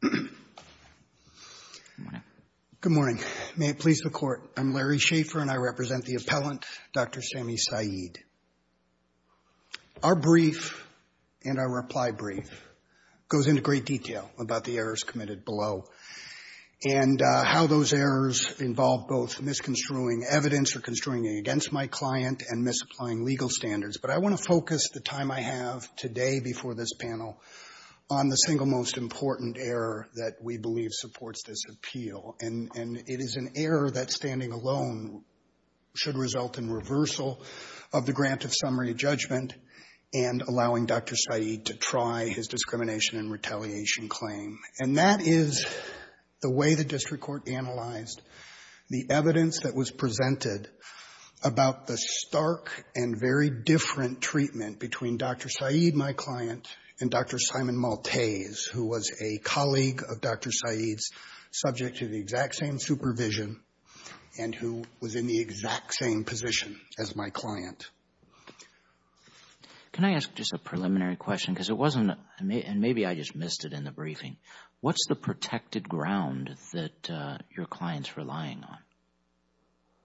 Good morning. May it please the Court, I'm Larry Schaefer and I represent the appellant Dr. Sami Said. Our brief and our reply brief goes into great detail about the errors committed below and how those errors involve both misconstruing evidence or construing against my client and misapplying legal standards but I want to focus the time I have today before this panel on the single most important error that we believe supports this appeal and and it is an error that standing alone should result in reversal of the grant of summary judgment and allowing Dr. Said to try his discrimination and retaliation claim and that is the way the district court analyzed the evidence that was presented about the stark and very different treatment between Dr. Said, my client, and Dr. Simon Maltese, who was a colleague of Dr. Said's subject to the exact same supervision and who was in the exact same position as my client. Can I ask just a preliminary question because it wasn't and maybe I just missed it in the briefing. What's the protected ground that your client's relying on?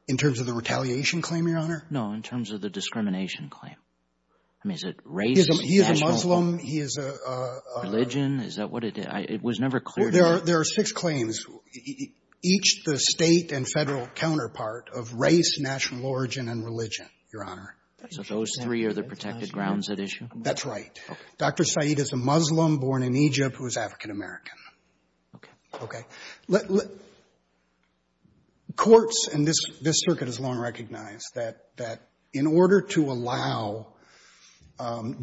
In terms of the retaliation claim, your honor? No, in terms of the discrimination claim. I mean is it race? He is a Muslim. He is a religion. Is that what it is? It was never clear. There are six claims, each the State and Federal counterpart of race, national origin, and religion, your honor. So those three are the protected grounds at issue? That's right. Dr. Said is a Muslim born in Egypt who is African-American. Okay. Okay. Courts and this this circuit has long recognized that that in order to allow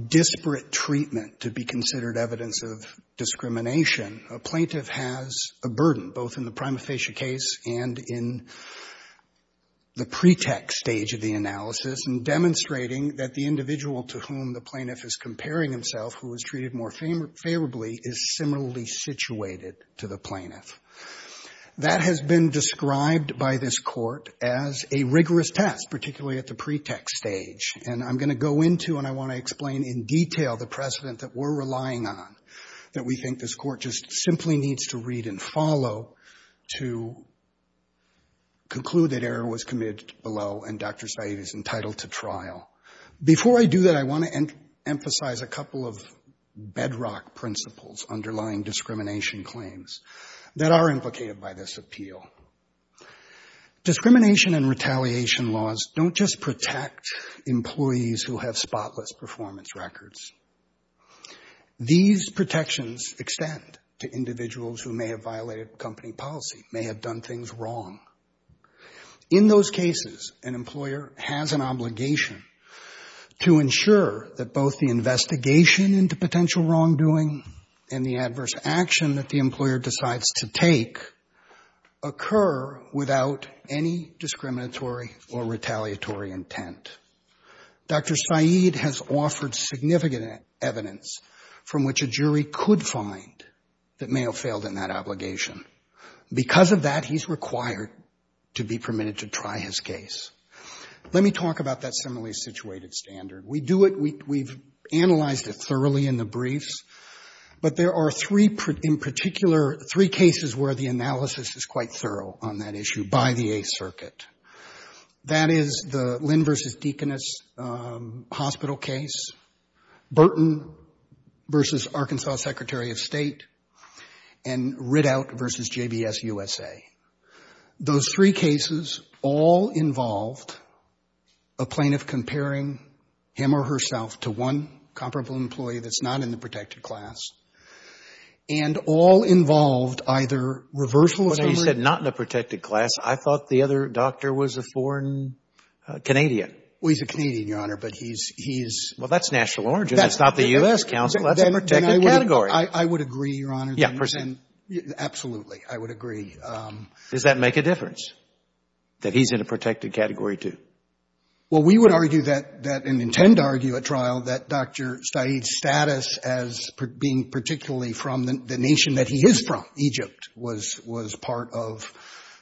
disparate treatment to be considered evidence of discrimination, a plaintiff has a burden both in the prima facie case and in the pretext stage of the analysis and demonstrating that the individual to whom the plaintiff is comparing himself who was treated more favorably is similarly situated to the plaintiff. That has been described by this court as a rigorous test, particularly at the pretext stage. And I'm going to go into and I want to explain in detail the precedent that we're relying on that we think this court just simply needs to read and follow to conclude that error was committed below and Dr. Said is entitled to trial. Before I do that, I want to emphasize a couple of bedrock principles underlying Discrimination and retaliation laws don't just protect employees who have spotless performance records. These protections extend to individuals who may have violated company policy, may have done things wrong. In those cases, an employer has an obligation to ensure that both the investigation into potential wrongdoing and the violation of company policy occur without any discriminatory or retaliatory intent. Dr. Said has offered significant evidence from which a jury could find that may have failed in that obligation. Because of that, he's required to be permitted to try his case. Let me talk about that similarly situated standard. We do it, we've analyzed it thoroughly in the briefs, but there are three in particular, three cases where the analysis is quite thorough on that issue by the 8th Circuit. That is the Lynn v. Deaconess hospital case, Burton v. Arkansas Secretary of State, and Riddout v. JBS USA. Those three cases all involved a plaintiff comparing him or herself to one comparable employee that's not in the protected class and all involved either reversal of memory. But now you said not in the protected class. I thought the other doctor was a foreign Canadian. Well, he's a Canadian, Your Honor, but he's, he's Well, that's national origin. That's not the U.S. counsel. That's a protected category. I would agree, Your Honor. Yeah, percent. Absolutely, I would agree. Does that make a difference, that he's in a protected category, too? Well, we would argue that, and intend to argue at trial, that Dr. Said's status as being particularly from the nation that he is from, Egypt, was, was part of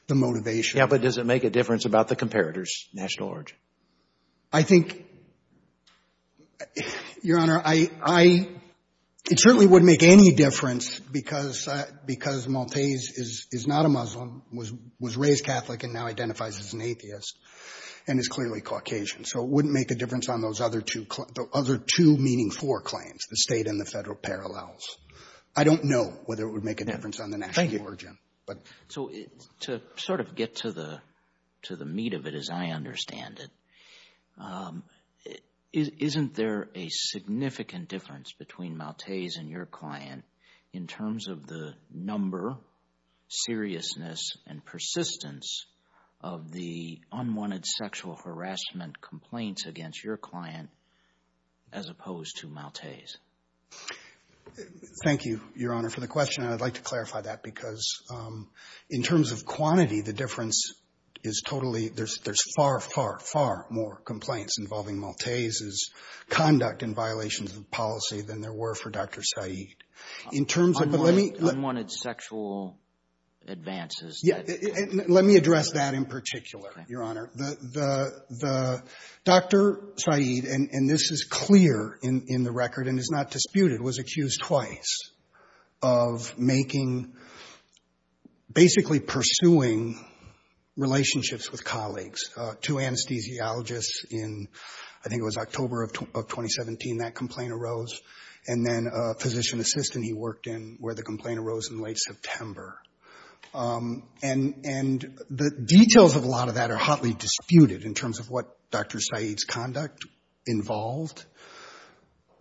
the motivation. Yeah, but does it make a difference about the comparator's national origin? I think, Your Honor, I, I, it certainly wouldn't make any difference because, because Montez is, is not a Muslim, was, was raised Catholic and now identifies as an atheist and is clearly Caucasian. So it wouldn't make a difference on those other two, the other two Meaning Four claims, the state and the federal parallels. I don't know whether it would make a difference on the national origin, but. So, to sort of get to the, to the meat of it as I understand it, isn't there a significant difference between Montez and your client in terms of the number, seriousness, and persistence of the unwanted sexual harassment complaints against your client as opposed to Montez? Thank you, Your Honor, for the question. I'd like to clarify that because in terms of quantity, the difference is totally, there's, there's far, far, far more complaints involving Montez's conduct and violations of policy than there were for Dr. Said. In terms of, but let me. Unwanted sexual advances. Let me address that in particular, Your Honor. The, the, the, Dr. Said, and, and this is clear in, in the record and is not disputed, was accused twice of making, basically pursuing relationships with colleagues. Two anesthesiologists in, I think it was October of 2017, that complaint arose. And then a physician assistant he worked in where the complaint arose in late September. And, and the details of a lot of that are hotly disputed in terms of what Dr. Said's conduct involved.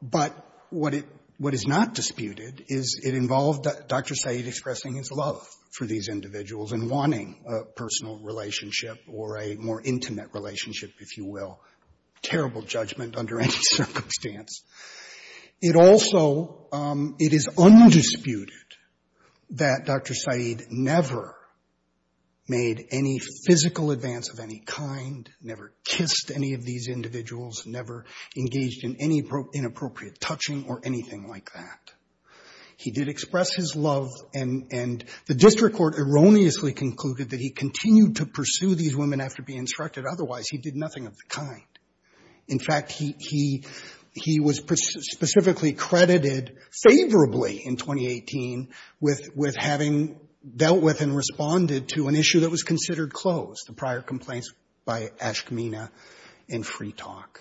But what it, what is not disputed is it involved Dr. Said expressing his love for these individuals and wanting a personal relationship or a more intimate relationship, if you will. Terrible judgment under any circumstances. It is undisputed that Dr. Said never made any physical advance of any kind, never kissed any of these individuals, never engaged in any inappropriate touching or anything like that. He did express his love and, and the district court erroneously concluded that he continued to pursue these women after being instructed. Otherwise, he did nothing of the kind. In fact, he, he, he was specifically credited favorably in 2018 with, with having dealt with and responded to an issue that was considered closed, the prior complaints by Ashkemena and Freetalk.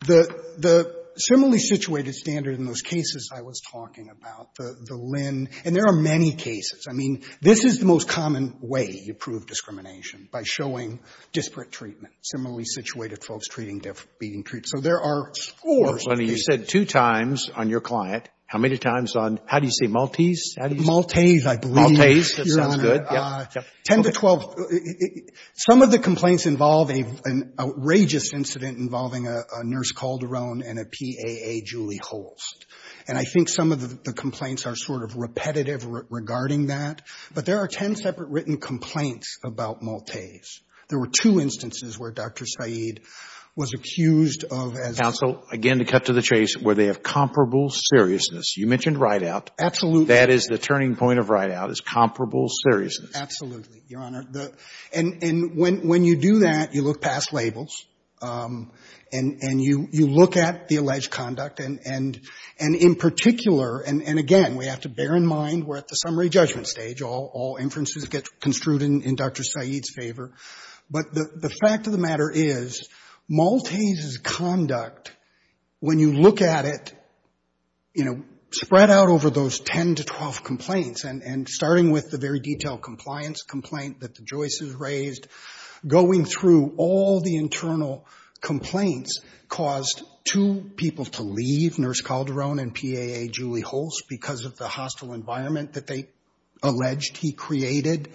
The, the similarly situated standard in those cases I was talking about, the, the Lynn, and there are many cases. I mean, this is the most common way you prove discrimination, by showing disparate treatment. Similarly situated folks being treated. So there are scores of cases. You said two times on your client. How many times on, how do you say, Maltese? Maltese, I believe. Maltese, Your Honor. 10 to 12. Some of the complaints involve an outrageous incident involving a Nurse Calderon and a PAA Julie Holst. And I think some of the complaints are sort of repetitive regarding that. But there are 10 separate written complaints about Maltese. There were two instances where Dr. Said was accused of as. Counsel, again, to cut to the chase, where they have comparable seriousness. You mentioned Rideout. Absolutely. That is the turning point of Rideout, is comparable seriousness. Absolutely, Your Honor. And, and when, when you do that, you look past labels. And, and you, you look at the alleged Maltese conduct. And, and in particular, and, and again, we have to bear in mind we're at the summary judgment stage. All, all inferences get construed in, in Dr. Said's favor. But the, the fact of the matter is, Maltese's conduct, when you look at it, you know, spread out over those 10 to 12 complaints. And, and starting with the very detailed compliance complaint that the Joyce's were unable to leave, Nurse Calderon and PAA Julie Hulse, because of the hostile environment that they alleged he created.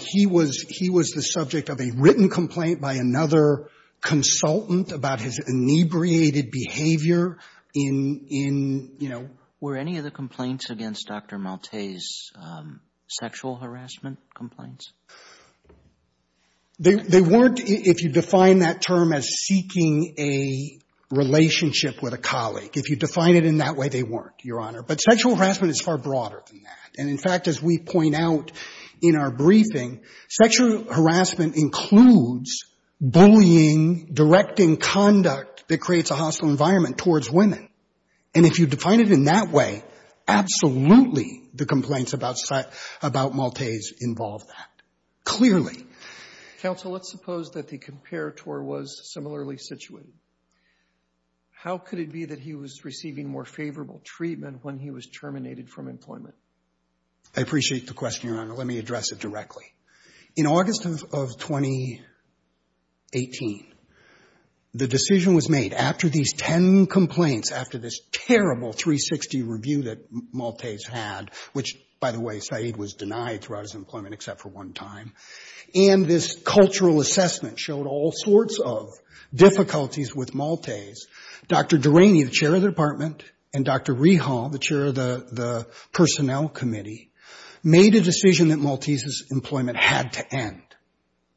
He was, he was the subject of a written complaint by another consultant about his inebriated behavior in, in, you know. Were any of the complaints against Dr. Maltese sexual harassment complaints? They, they weren't, if you define that term as seeking a relationship with a colleague. If you define it in that way, they weren't, Your Honor. But sexual harassment is far broader than that. And in fact, as we point out in our briefing, sexual harassment includes bullying, directing conduct that creates a hostile environment towards women. And if you define it in that way, absolutely the complaints about, about Maltese involve that, clearly. Counsel, let's suppose that the comparator was similarly situated. How could it be that he was receiving more favorable treatment when he was terminated from employment? I appreciate the question, Your Honor. Let me address it directly. In August of, of 2018, the decision was made after these 10 complaints, after this terrible 360 review that Maltese had, which, by the way, Said was denied throughout Maltese employment except for one time. And this cultural assessment showed all sorts of difficulties with Maltese. Dr. Duraney, the chair of the department, and Dr. Rehal, the chair of the, the personnel committee, made a decision that Maltese's employment had to end.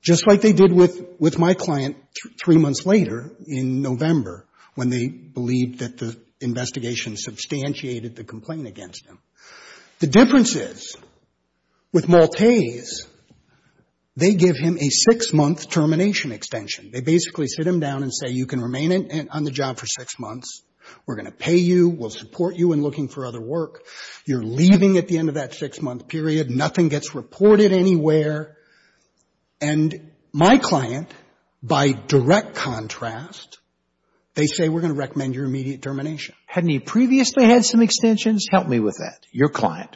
Just like they did with, with my client three months later, in November, when they believed that the investigation substantiated the complaint against him. The difference is, with Maltese, they give him a six-month termination extension. They basically sit him down and say, you can remain on the job for six months. We're going to pay you. We'll support you in looking for other work. You're leaving at the end of that six-month period. Nothing gets reported anywhere. And my client, by direct contrast, they say, we're going to recommend your immediate termination. Hadn't he previously had some extensions? Help me with that. Your client.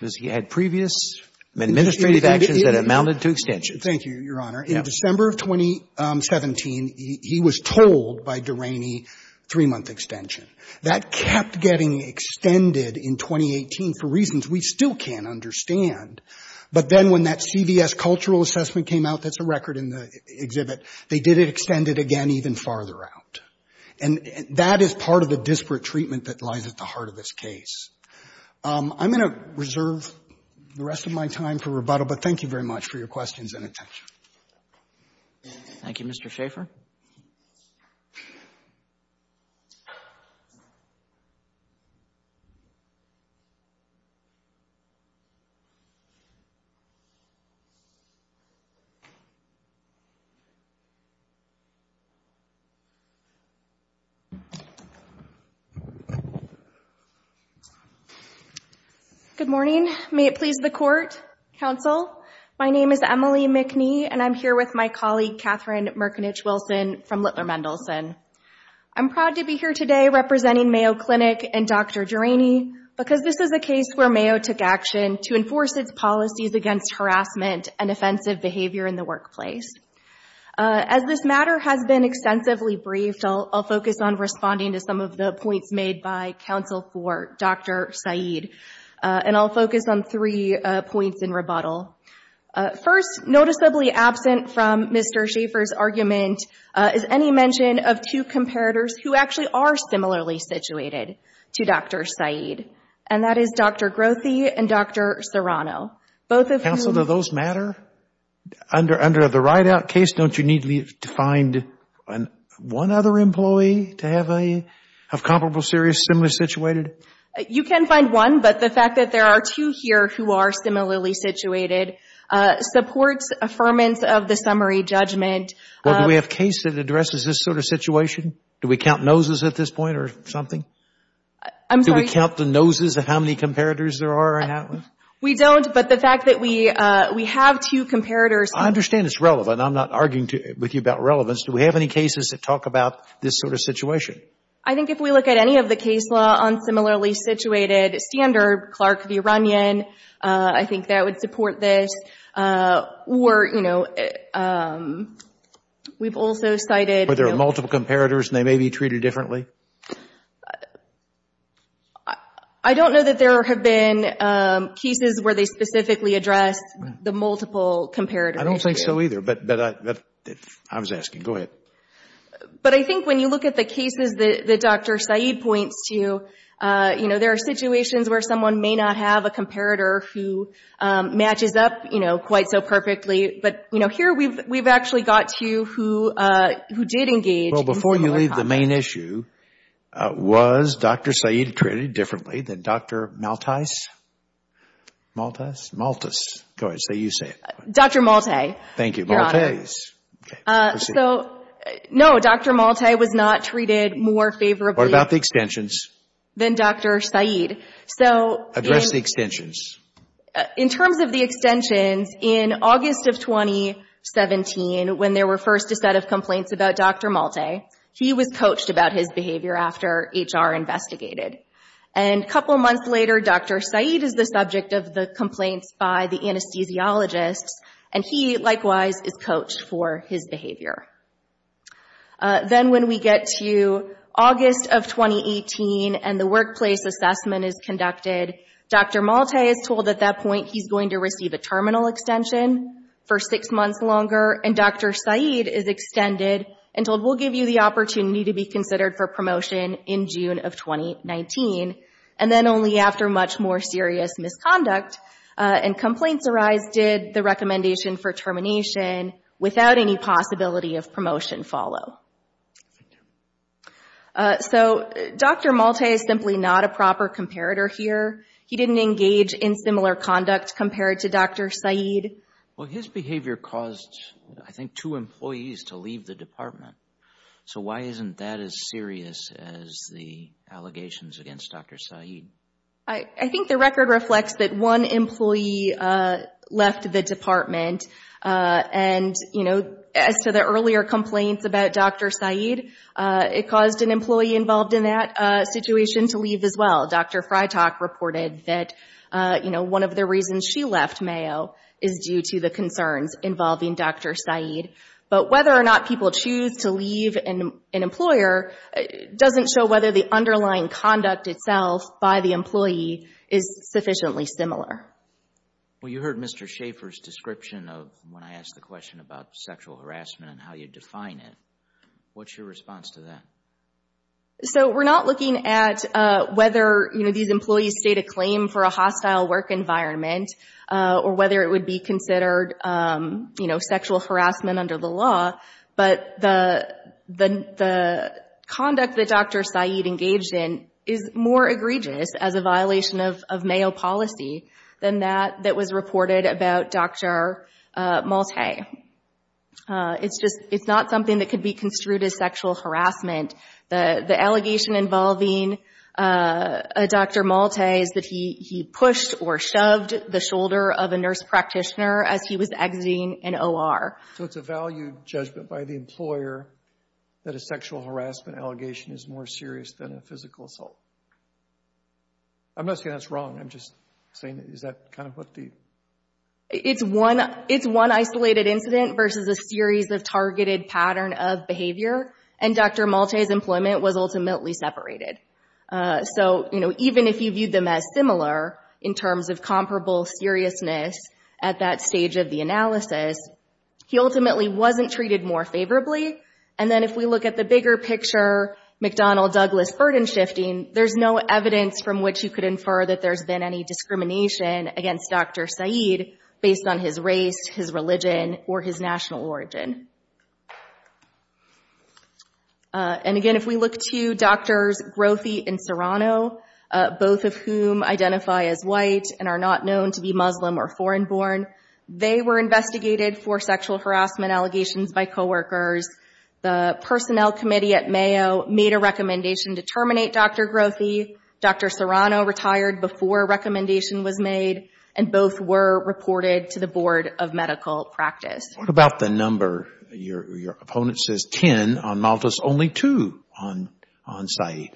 Has he had previous administrative actions that amounted to extensions? Thank you, Your Honor. In December of 2017, he was told by Duraney three-month extension. That kept getting extended in 2018 for reasons we still can't understand. But then when that CVS cultural assessment came out, that's a record in the exhibit, they did extend it again even farther out. And that is part of the disparate treatment that lies at the heart of this case. I'm going to reserve the rest of my time for rebuttal, but thank you very much for your questions and attention. Thank you, Mr. Schaffer. Good morning. May it please the court, counsel. My name is Emily McNee, and I'm here with my colleague, Catherine Merkinich-Wilson from Littler Mendelsohn. I'm proud to be here today representing Mayo Clinic and Dr. Duraney because this is a case where Mayo took action to enforce its policies against harassment and offensive behavior in the workplace. As this matter has been extensively briefed, I'll focus on responding to some of the points made by counsel for Dr. Saeed. And I'll focus on three points in rebuttal. First, noticeably absent from Mr. Schaffer's report are two employees who are similarly situated to Dr. Saeed, and that is Dr. Grothy and Dr. Serrano, both of whom... Counsel, do those matter? Under the write-out case, don't you need to find one other employee to have a comparable, serious, similar situated? You can find one, but the fact that there are two here who are similarly situated supports affirmance of the summary judgment... Well, do we have a case that addresses this sort of situation? Do we count noses at this point or something? I'm sorry? Do we count the noses of how many comparators there are in that one? We don't, but the fact that we have two comparators... I understand it's relevant. I'm not arguing with you about relevance. Do we have any cases that talk about this sort of situation? I think if we look at any of the case law on similarly situated standard, Clark of Iranian, I think that would support this. Or, you know, we've also cited... But there are multiple comparators and they may be treated differently? I don't know that there have been cases where they specifically address the multiple comparators. I don't think so either, but I was asking. Go ahead. But I think when you look at the cases that Dr. Saeed points to, you know, there are situations where someone may not have a comparator who matches up, you know, quite so perfectly. But, you know, here we've actually got two who did engage... Well, before you leave, the main issue, was Dr. Saeed treated differently than Dr. Maltice? Maltice? Maltice. Go ahead. Say you say it. Dr. Malte. Thank you. Maltese. So, no, Dr. Malte was not treated more favorably... What about the extensions? ...than Dr. Saeed. So... Address the extensions. In terms of the extensions, in August of 2017, when there were first a set of complaints about Dr. Malte, he was coached about his behavior after HR investigated. And a couple months later, Dr. Saeed is the subject of the complaints by the anesthesiologists, and he, likewise, is coached for his behavior. Then when we get to August of 2018, and the workplace assessment is conducted, Dr. Malte is told at that point he's going to receive a terminal extension for six months longer, and Dr. Saeed is extended and told, we'll give you the opportunity to be considered for promotion in June of 2019. And then only after much more serious misconduct and complaints arise did the recommendation for termination, without any possibility of promotion, follow. Thank you. So, Dr. Malte is simply not a proper comparator here. He didn't engage in similar conduct compared to Dr. Saeed. Well, his behavior caused, I think, two employees to leave the department. So why isn't that as serious as the allegations against Dr. Saeed? I think the record reflects that one employee left the department. And, you know, as to the earlier complaints about Dr. Saeed, it caused an employee involved in that situation to leave as well. Dr. Freitag reported that, you know, one of the reasons she left Mayo is due to the concerns involving Dr. Saeed. But whether or not people choose to leave an employer doesn't show whether the decision made by the employee is sufficiently similar. Well, you heard Mr. Schaefer's description of when I asked the question about sexual harassment and how you define it. What's your response to that? So we're not looking at whether, you know, these employees state a claim for a hostile work environment or whether it would be considered, you know, sexual harassment under the law. But the conduct that Dr. Saeed engaged in is more egregious as a violation of Mayo policy than that that was reported about Dr. Maltais. It's not something that could be construed as sexual harassment. The allegation involving Dr. Maltais is that he pushed or shoved the shoulder of a nurse practitioner as he was exiting an OR. So it's a value judgment by the employer that a sexual harassment allegation is more serious than a physical assault. I'm not saying that's wrong. I'm just saying is that kind of what the... It's one isolated incident versus a series of targeted pattern of behavior. And Dr. Maltais' employment was ultimately separated. So, you know, even if you viewed them as similar in terms of comparable seriousness at that stage of the analysis, he ultimately wasn't treated more seriously than Dr. Maltais. And if you look at the Donald Douglas burden-shifting, there's no evidence from which you could infer that there's been any discrimination against Dr. Saeed based on his race, his religion, or his national origin. And again, if we look to Drs. Grothy and Serrano, both of whom identify as white and are not known to be Muslim or foreign-born, they were investigated for sexual harassment allegations by coworkers. The personnel committee at Mayo made a recommendation to terminate Dr. Grothy. Dr. Serrano retired before a recommendation was made, and both were reported to the Board of Medical Practice. What about the number? Your opponent says 10. On Maltais, only 2 on Saeed.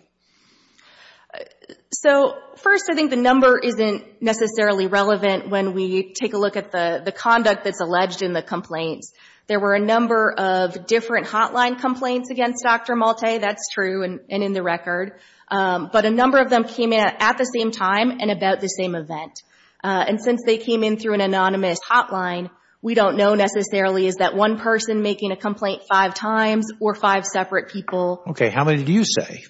So, first, I think the number isn't necessarily relevant when we take a look at the conduct that's alleged in the complaints. There were a number of different hotline complaints against Dr. Maltais. That's true and in the record. But a number of them came in at the same time and about the same event. And since they came in through an anonymous hotline, we don't know necessarily is that one person making a complaint five times or five separate people. Okay. How many did you say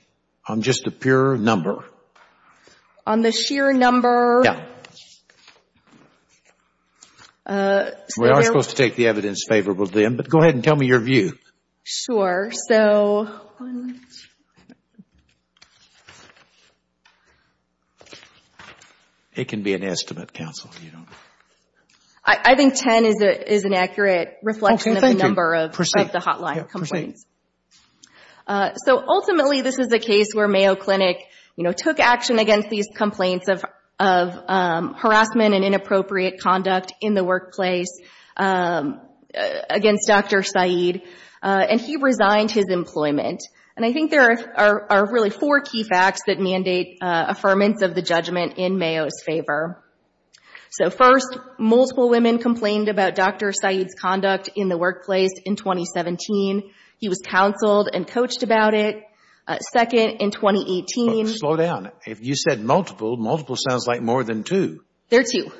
on just the pure number? On the sheer number? Yeah. We are supposed to take the evidence favorable to them, but go ahead and tell me your view. Sure. It can be an estimate, counsel. I think 10 is an accurate reflection of the number of the hotline complaints. So, ultimately, this is a case where Mayo Clinic took action against these complaints of harassment and inappropriate conduct in the workplace against Dr. Said. And he resigned his employment. And I think there are really four key facts that mandate affirmance of the judgment in Mayo's favor. So, first, multiple women complained about Dr. Said's conduct in the workplace in 2017. He was counseled and coached about it. Second, in 2018. Slow down. If you said multiple, multiple sounds like more than two. There are two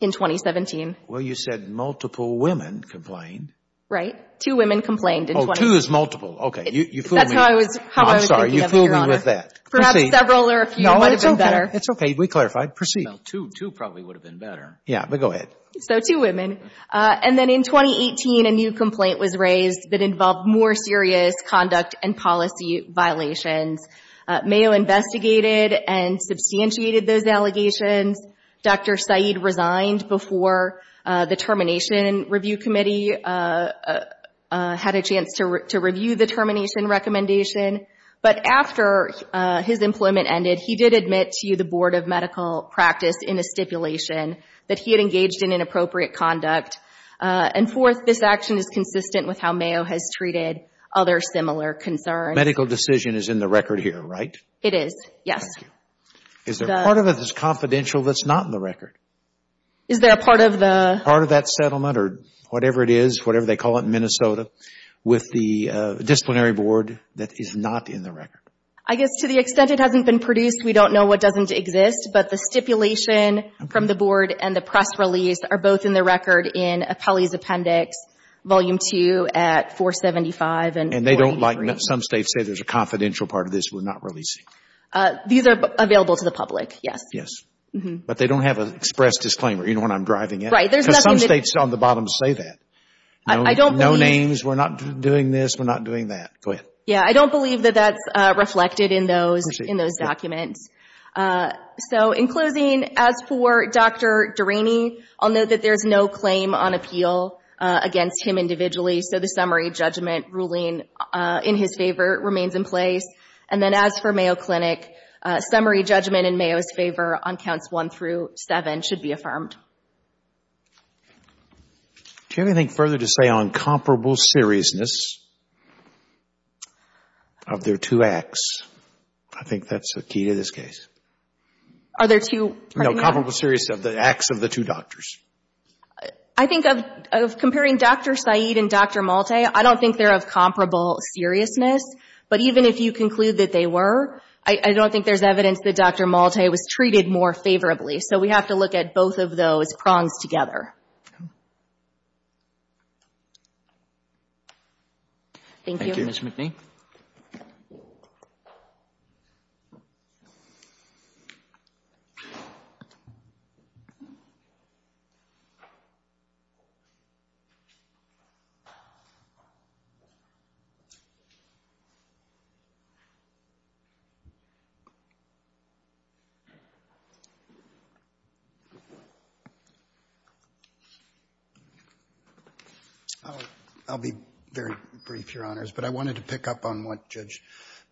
in 2017. Well, you said multiple women complained. Right. Two women complained in 2017. Oh, two is multiple. Okay. You fooled me. That's how I was thinking of it, Your Honor. I'm sorry. You fooled me with that. Perhaps several or a few might have been better. No, it's okay. We clarified. Proceed. Well, two probably would have been better. Yeah, but go ahead. So, two women. And then in 2018, a new complaint was raised that involved more serious conduct and policy violations. Mayo investigated and substantiated those allegations. Dr. Said resigned before the Termination Review Committee had a chance to review the termination recommendation. But after his employment ended, he did admit to the Board of Medical Practice in a stipulation that he had engaged in inappropriate conduct. And fourth, this action is consistent with how Mayo has treated other similar concerns. Medical decision is in the record here, right? It is, yes. Is there a part of it that's confidential that's not in the record? Is there a part of the... Part of that settlement or whatever it is, whatever they call it in Minnesota, with the disciplinary board that is not in the record? I guess to the extent it hasn't been produced, we don't know what doesn't exist, but the stipulation from the board and the press release are both in the record in Appellee's Appendix Volume 2 at 475. And they don't like... Some states say there's a confidential part of this we're not releasing. These are available to the public, yes. But they don't have an express disclaimer, you know what I'm driving at? Right, there's nothing... Some states on the bottom say that. No names, we're not doing this, we're not doing that. Go ahead. Yeah, I don't believe that that's reflected in those documents. So in closing, as for Dr. Duraney, I'll note that there's no claim on appeal against him individually, so the summary judgment ruling in his favor remains in place. And then as for Mayo Clinic, summary judgment in Mayo's favor on Counts 1 through 7 should be affirmed. Do you have anything further to say on comparable seriousness? Of their two acts. I think that's the key to this case. Are there two... No, comparable seriousness of the acts of the two doctors. I think of comparing Dr. Saeed and Dr. Malte, I don't think they're of comparable seriousness. But even if you conclude that they were, I don't think there's evidence that Dr. Malte was treated more favorably. So we have to look at both of those prongs together. Thank you. I'll be very brief, Your Honors, but I wanted to pick up on what Judge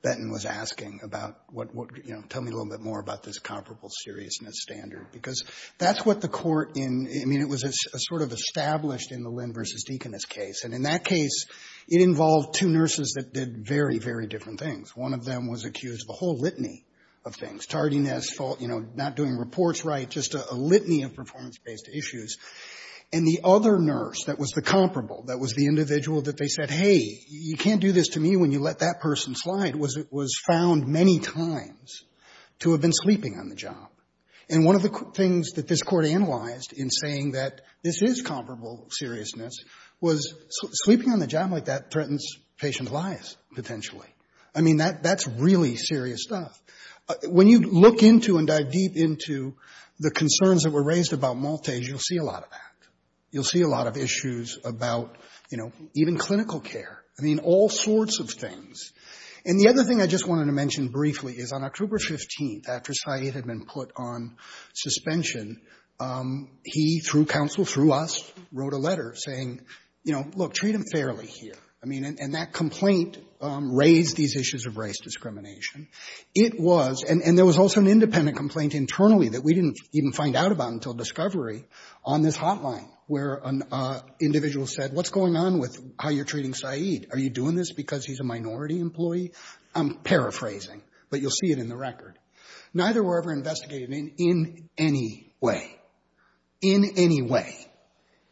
Benton was asking about what, you know, tell me a little bit more about this comparable seriousness standard. Because that's what the court in, I mean, it was a sort of established in the Lynn v. Deaconess case. And in that case, it involved two nurses that did very, very different things. One of them was accused of a whole litany of things. Tardiness, fault, you know, not doing reports right, just a litany of performance-based issues. And the other nurse that was the comparable, that was the individual that they said, hey, you can't do this to me when you let that person slide, was found many times to have been sleeping on the job. And one of the things that this Court analyzed in saying that this is comparable seriousness was sleeping on the job like that threatens patient's lives, potentially. I mean, that's really serious stuff. When you look into and dive deep into the concerns that were raised about Maltese, you'll see a lot of that. You'll see a lot of issues about, you know, even clinical care. I mean, all sorts of things. And the other thing I just wanted to mention briefly is on October 15th, after Syed had been put on suspension, he, through counsel, through us, wrote a letter saying, you know, look, treat him fairly here. I mean, and that complaint raised these issues of race discrimination. It was, and there was also an independent complaint internally that we didn't even find out about until discovery on this hotline where an individual said, what's going on with how you're treating Syed? Are you doing this because he's a minority employee? I'm paraphrasing, but you'll see it in the record. Neither were ever investigated in any way. In any way.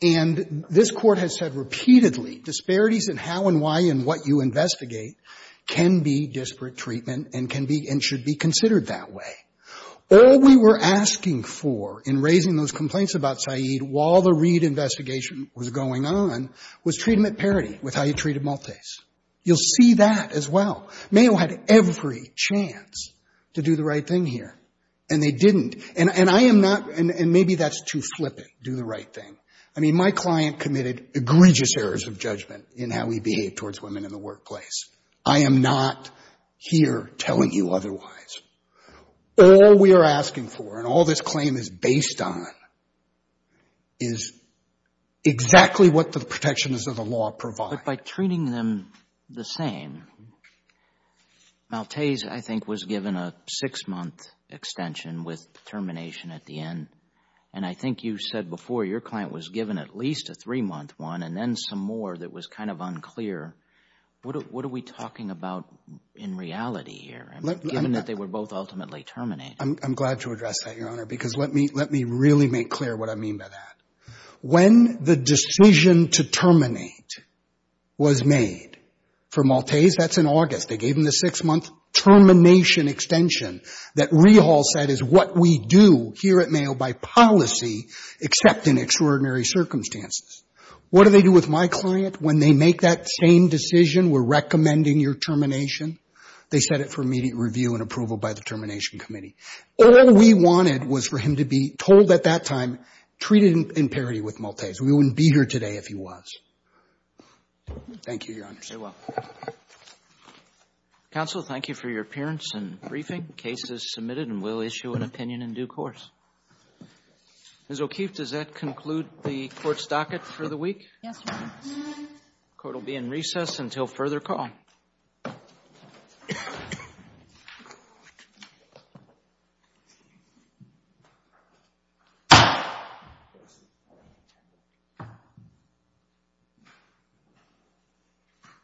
And this Court has said repeatedly, disparities in how and why and what you investigate can be disparate treatment and can be and should be considered that way. All we were asking for in raising those complaints about Syed while the Reed investigation was going on was treat him at parity with how you treated Maltese. You'll see that as well. Mayo had every chance to do the right thing here, and they didn't. And I am not, and maybe that's too flippant, do the right thing. I mean, my client committed egregious errors of judgment in how he behaved towards women in the workplace. I am not here telling you otherwise. All we are asking for and all this claim is based on is exactly what the protections of the law provide. But by treating them the same, Maltese, I think, was given a six-month extension with termination at the end, and I think you said before your client was given at least a three-month one and then some more that was kind of unclear. What are we talking about in reality here, given that they were both ultimately terminated? I'm glad to address that, Your Honor, because let me really make clear what I mean by that. When the decision to terminate was made for Maltese, that's in August. They gave him the six-month termination extension that Rehal said is what we do here at Mayo by policy, except in extraordinary circumstances. What do they do with my client when they make that same decision, we're recommending your termination? They set it for immediate review and approval by the Termination Committee. All we wanted was for him to be told at that time treated in parity with Maltese. We wouldn't be here today if he was. Thank you, Your Honor. Roberts. Counsel, thank you for your appearance and briefing. Case is submitted and we'll issue an opinion in due course. Ms. O'Keefe, does that conclude the Court's docket for the week? Yes, Your Honor. The Court will be in recess until further call.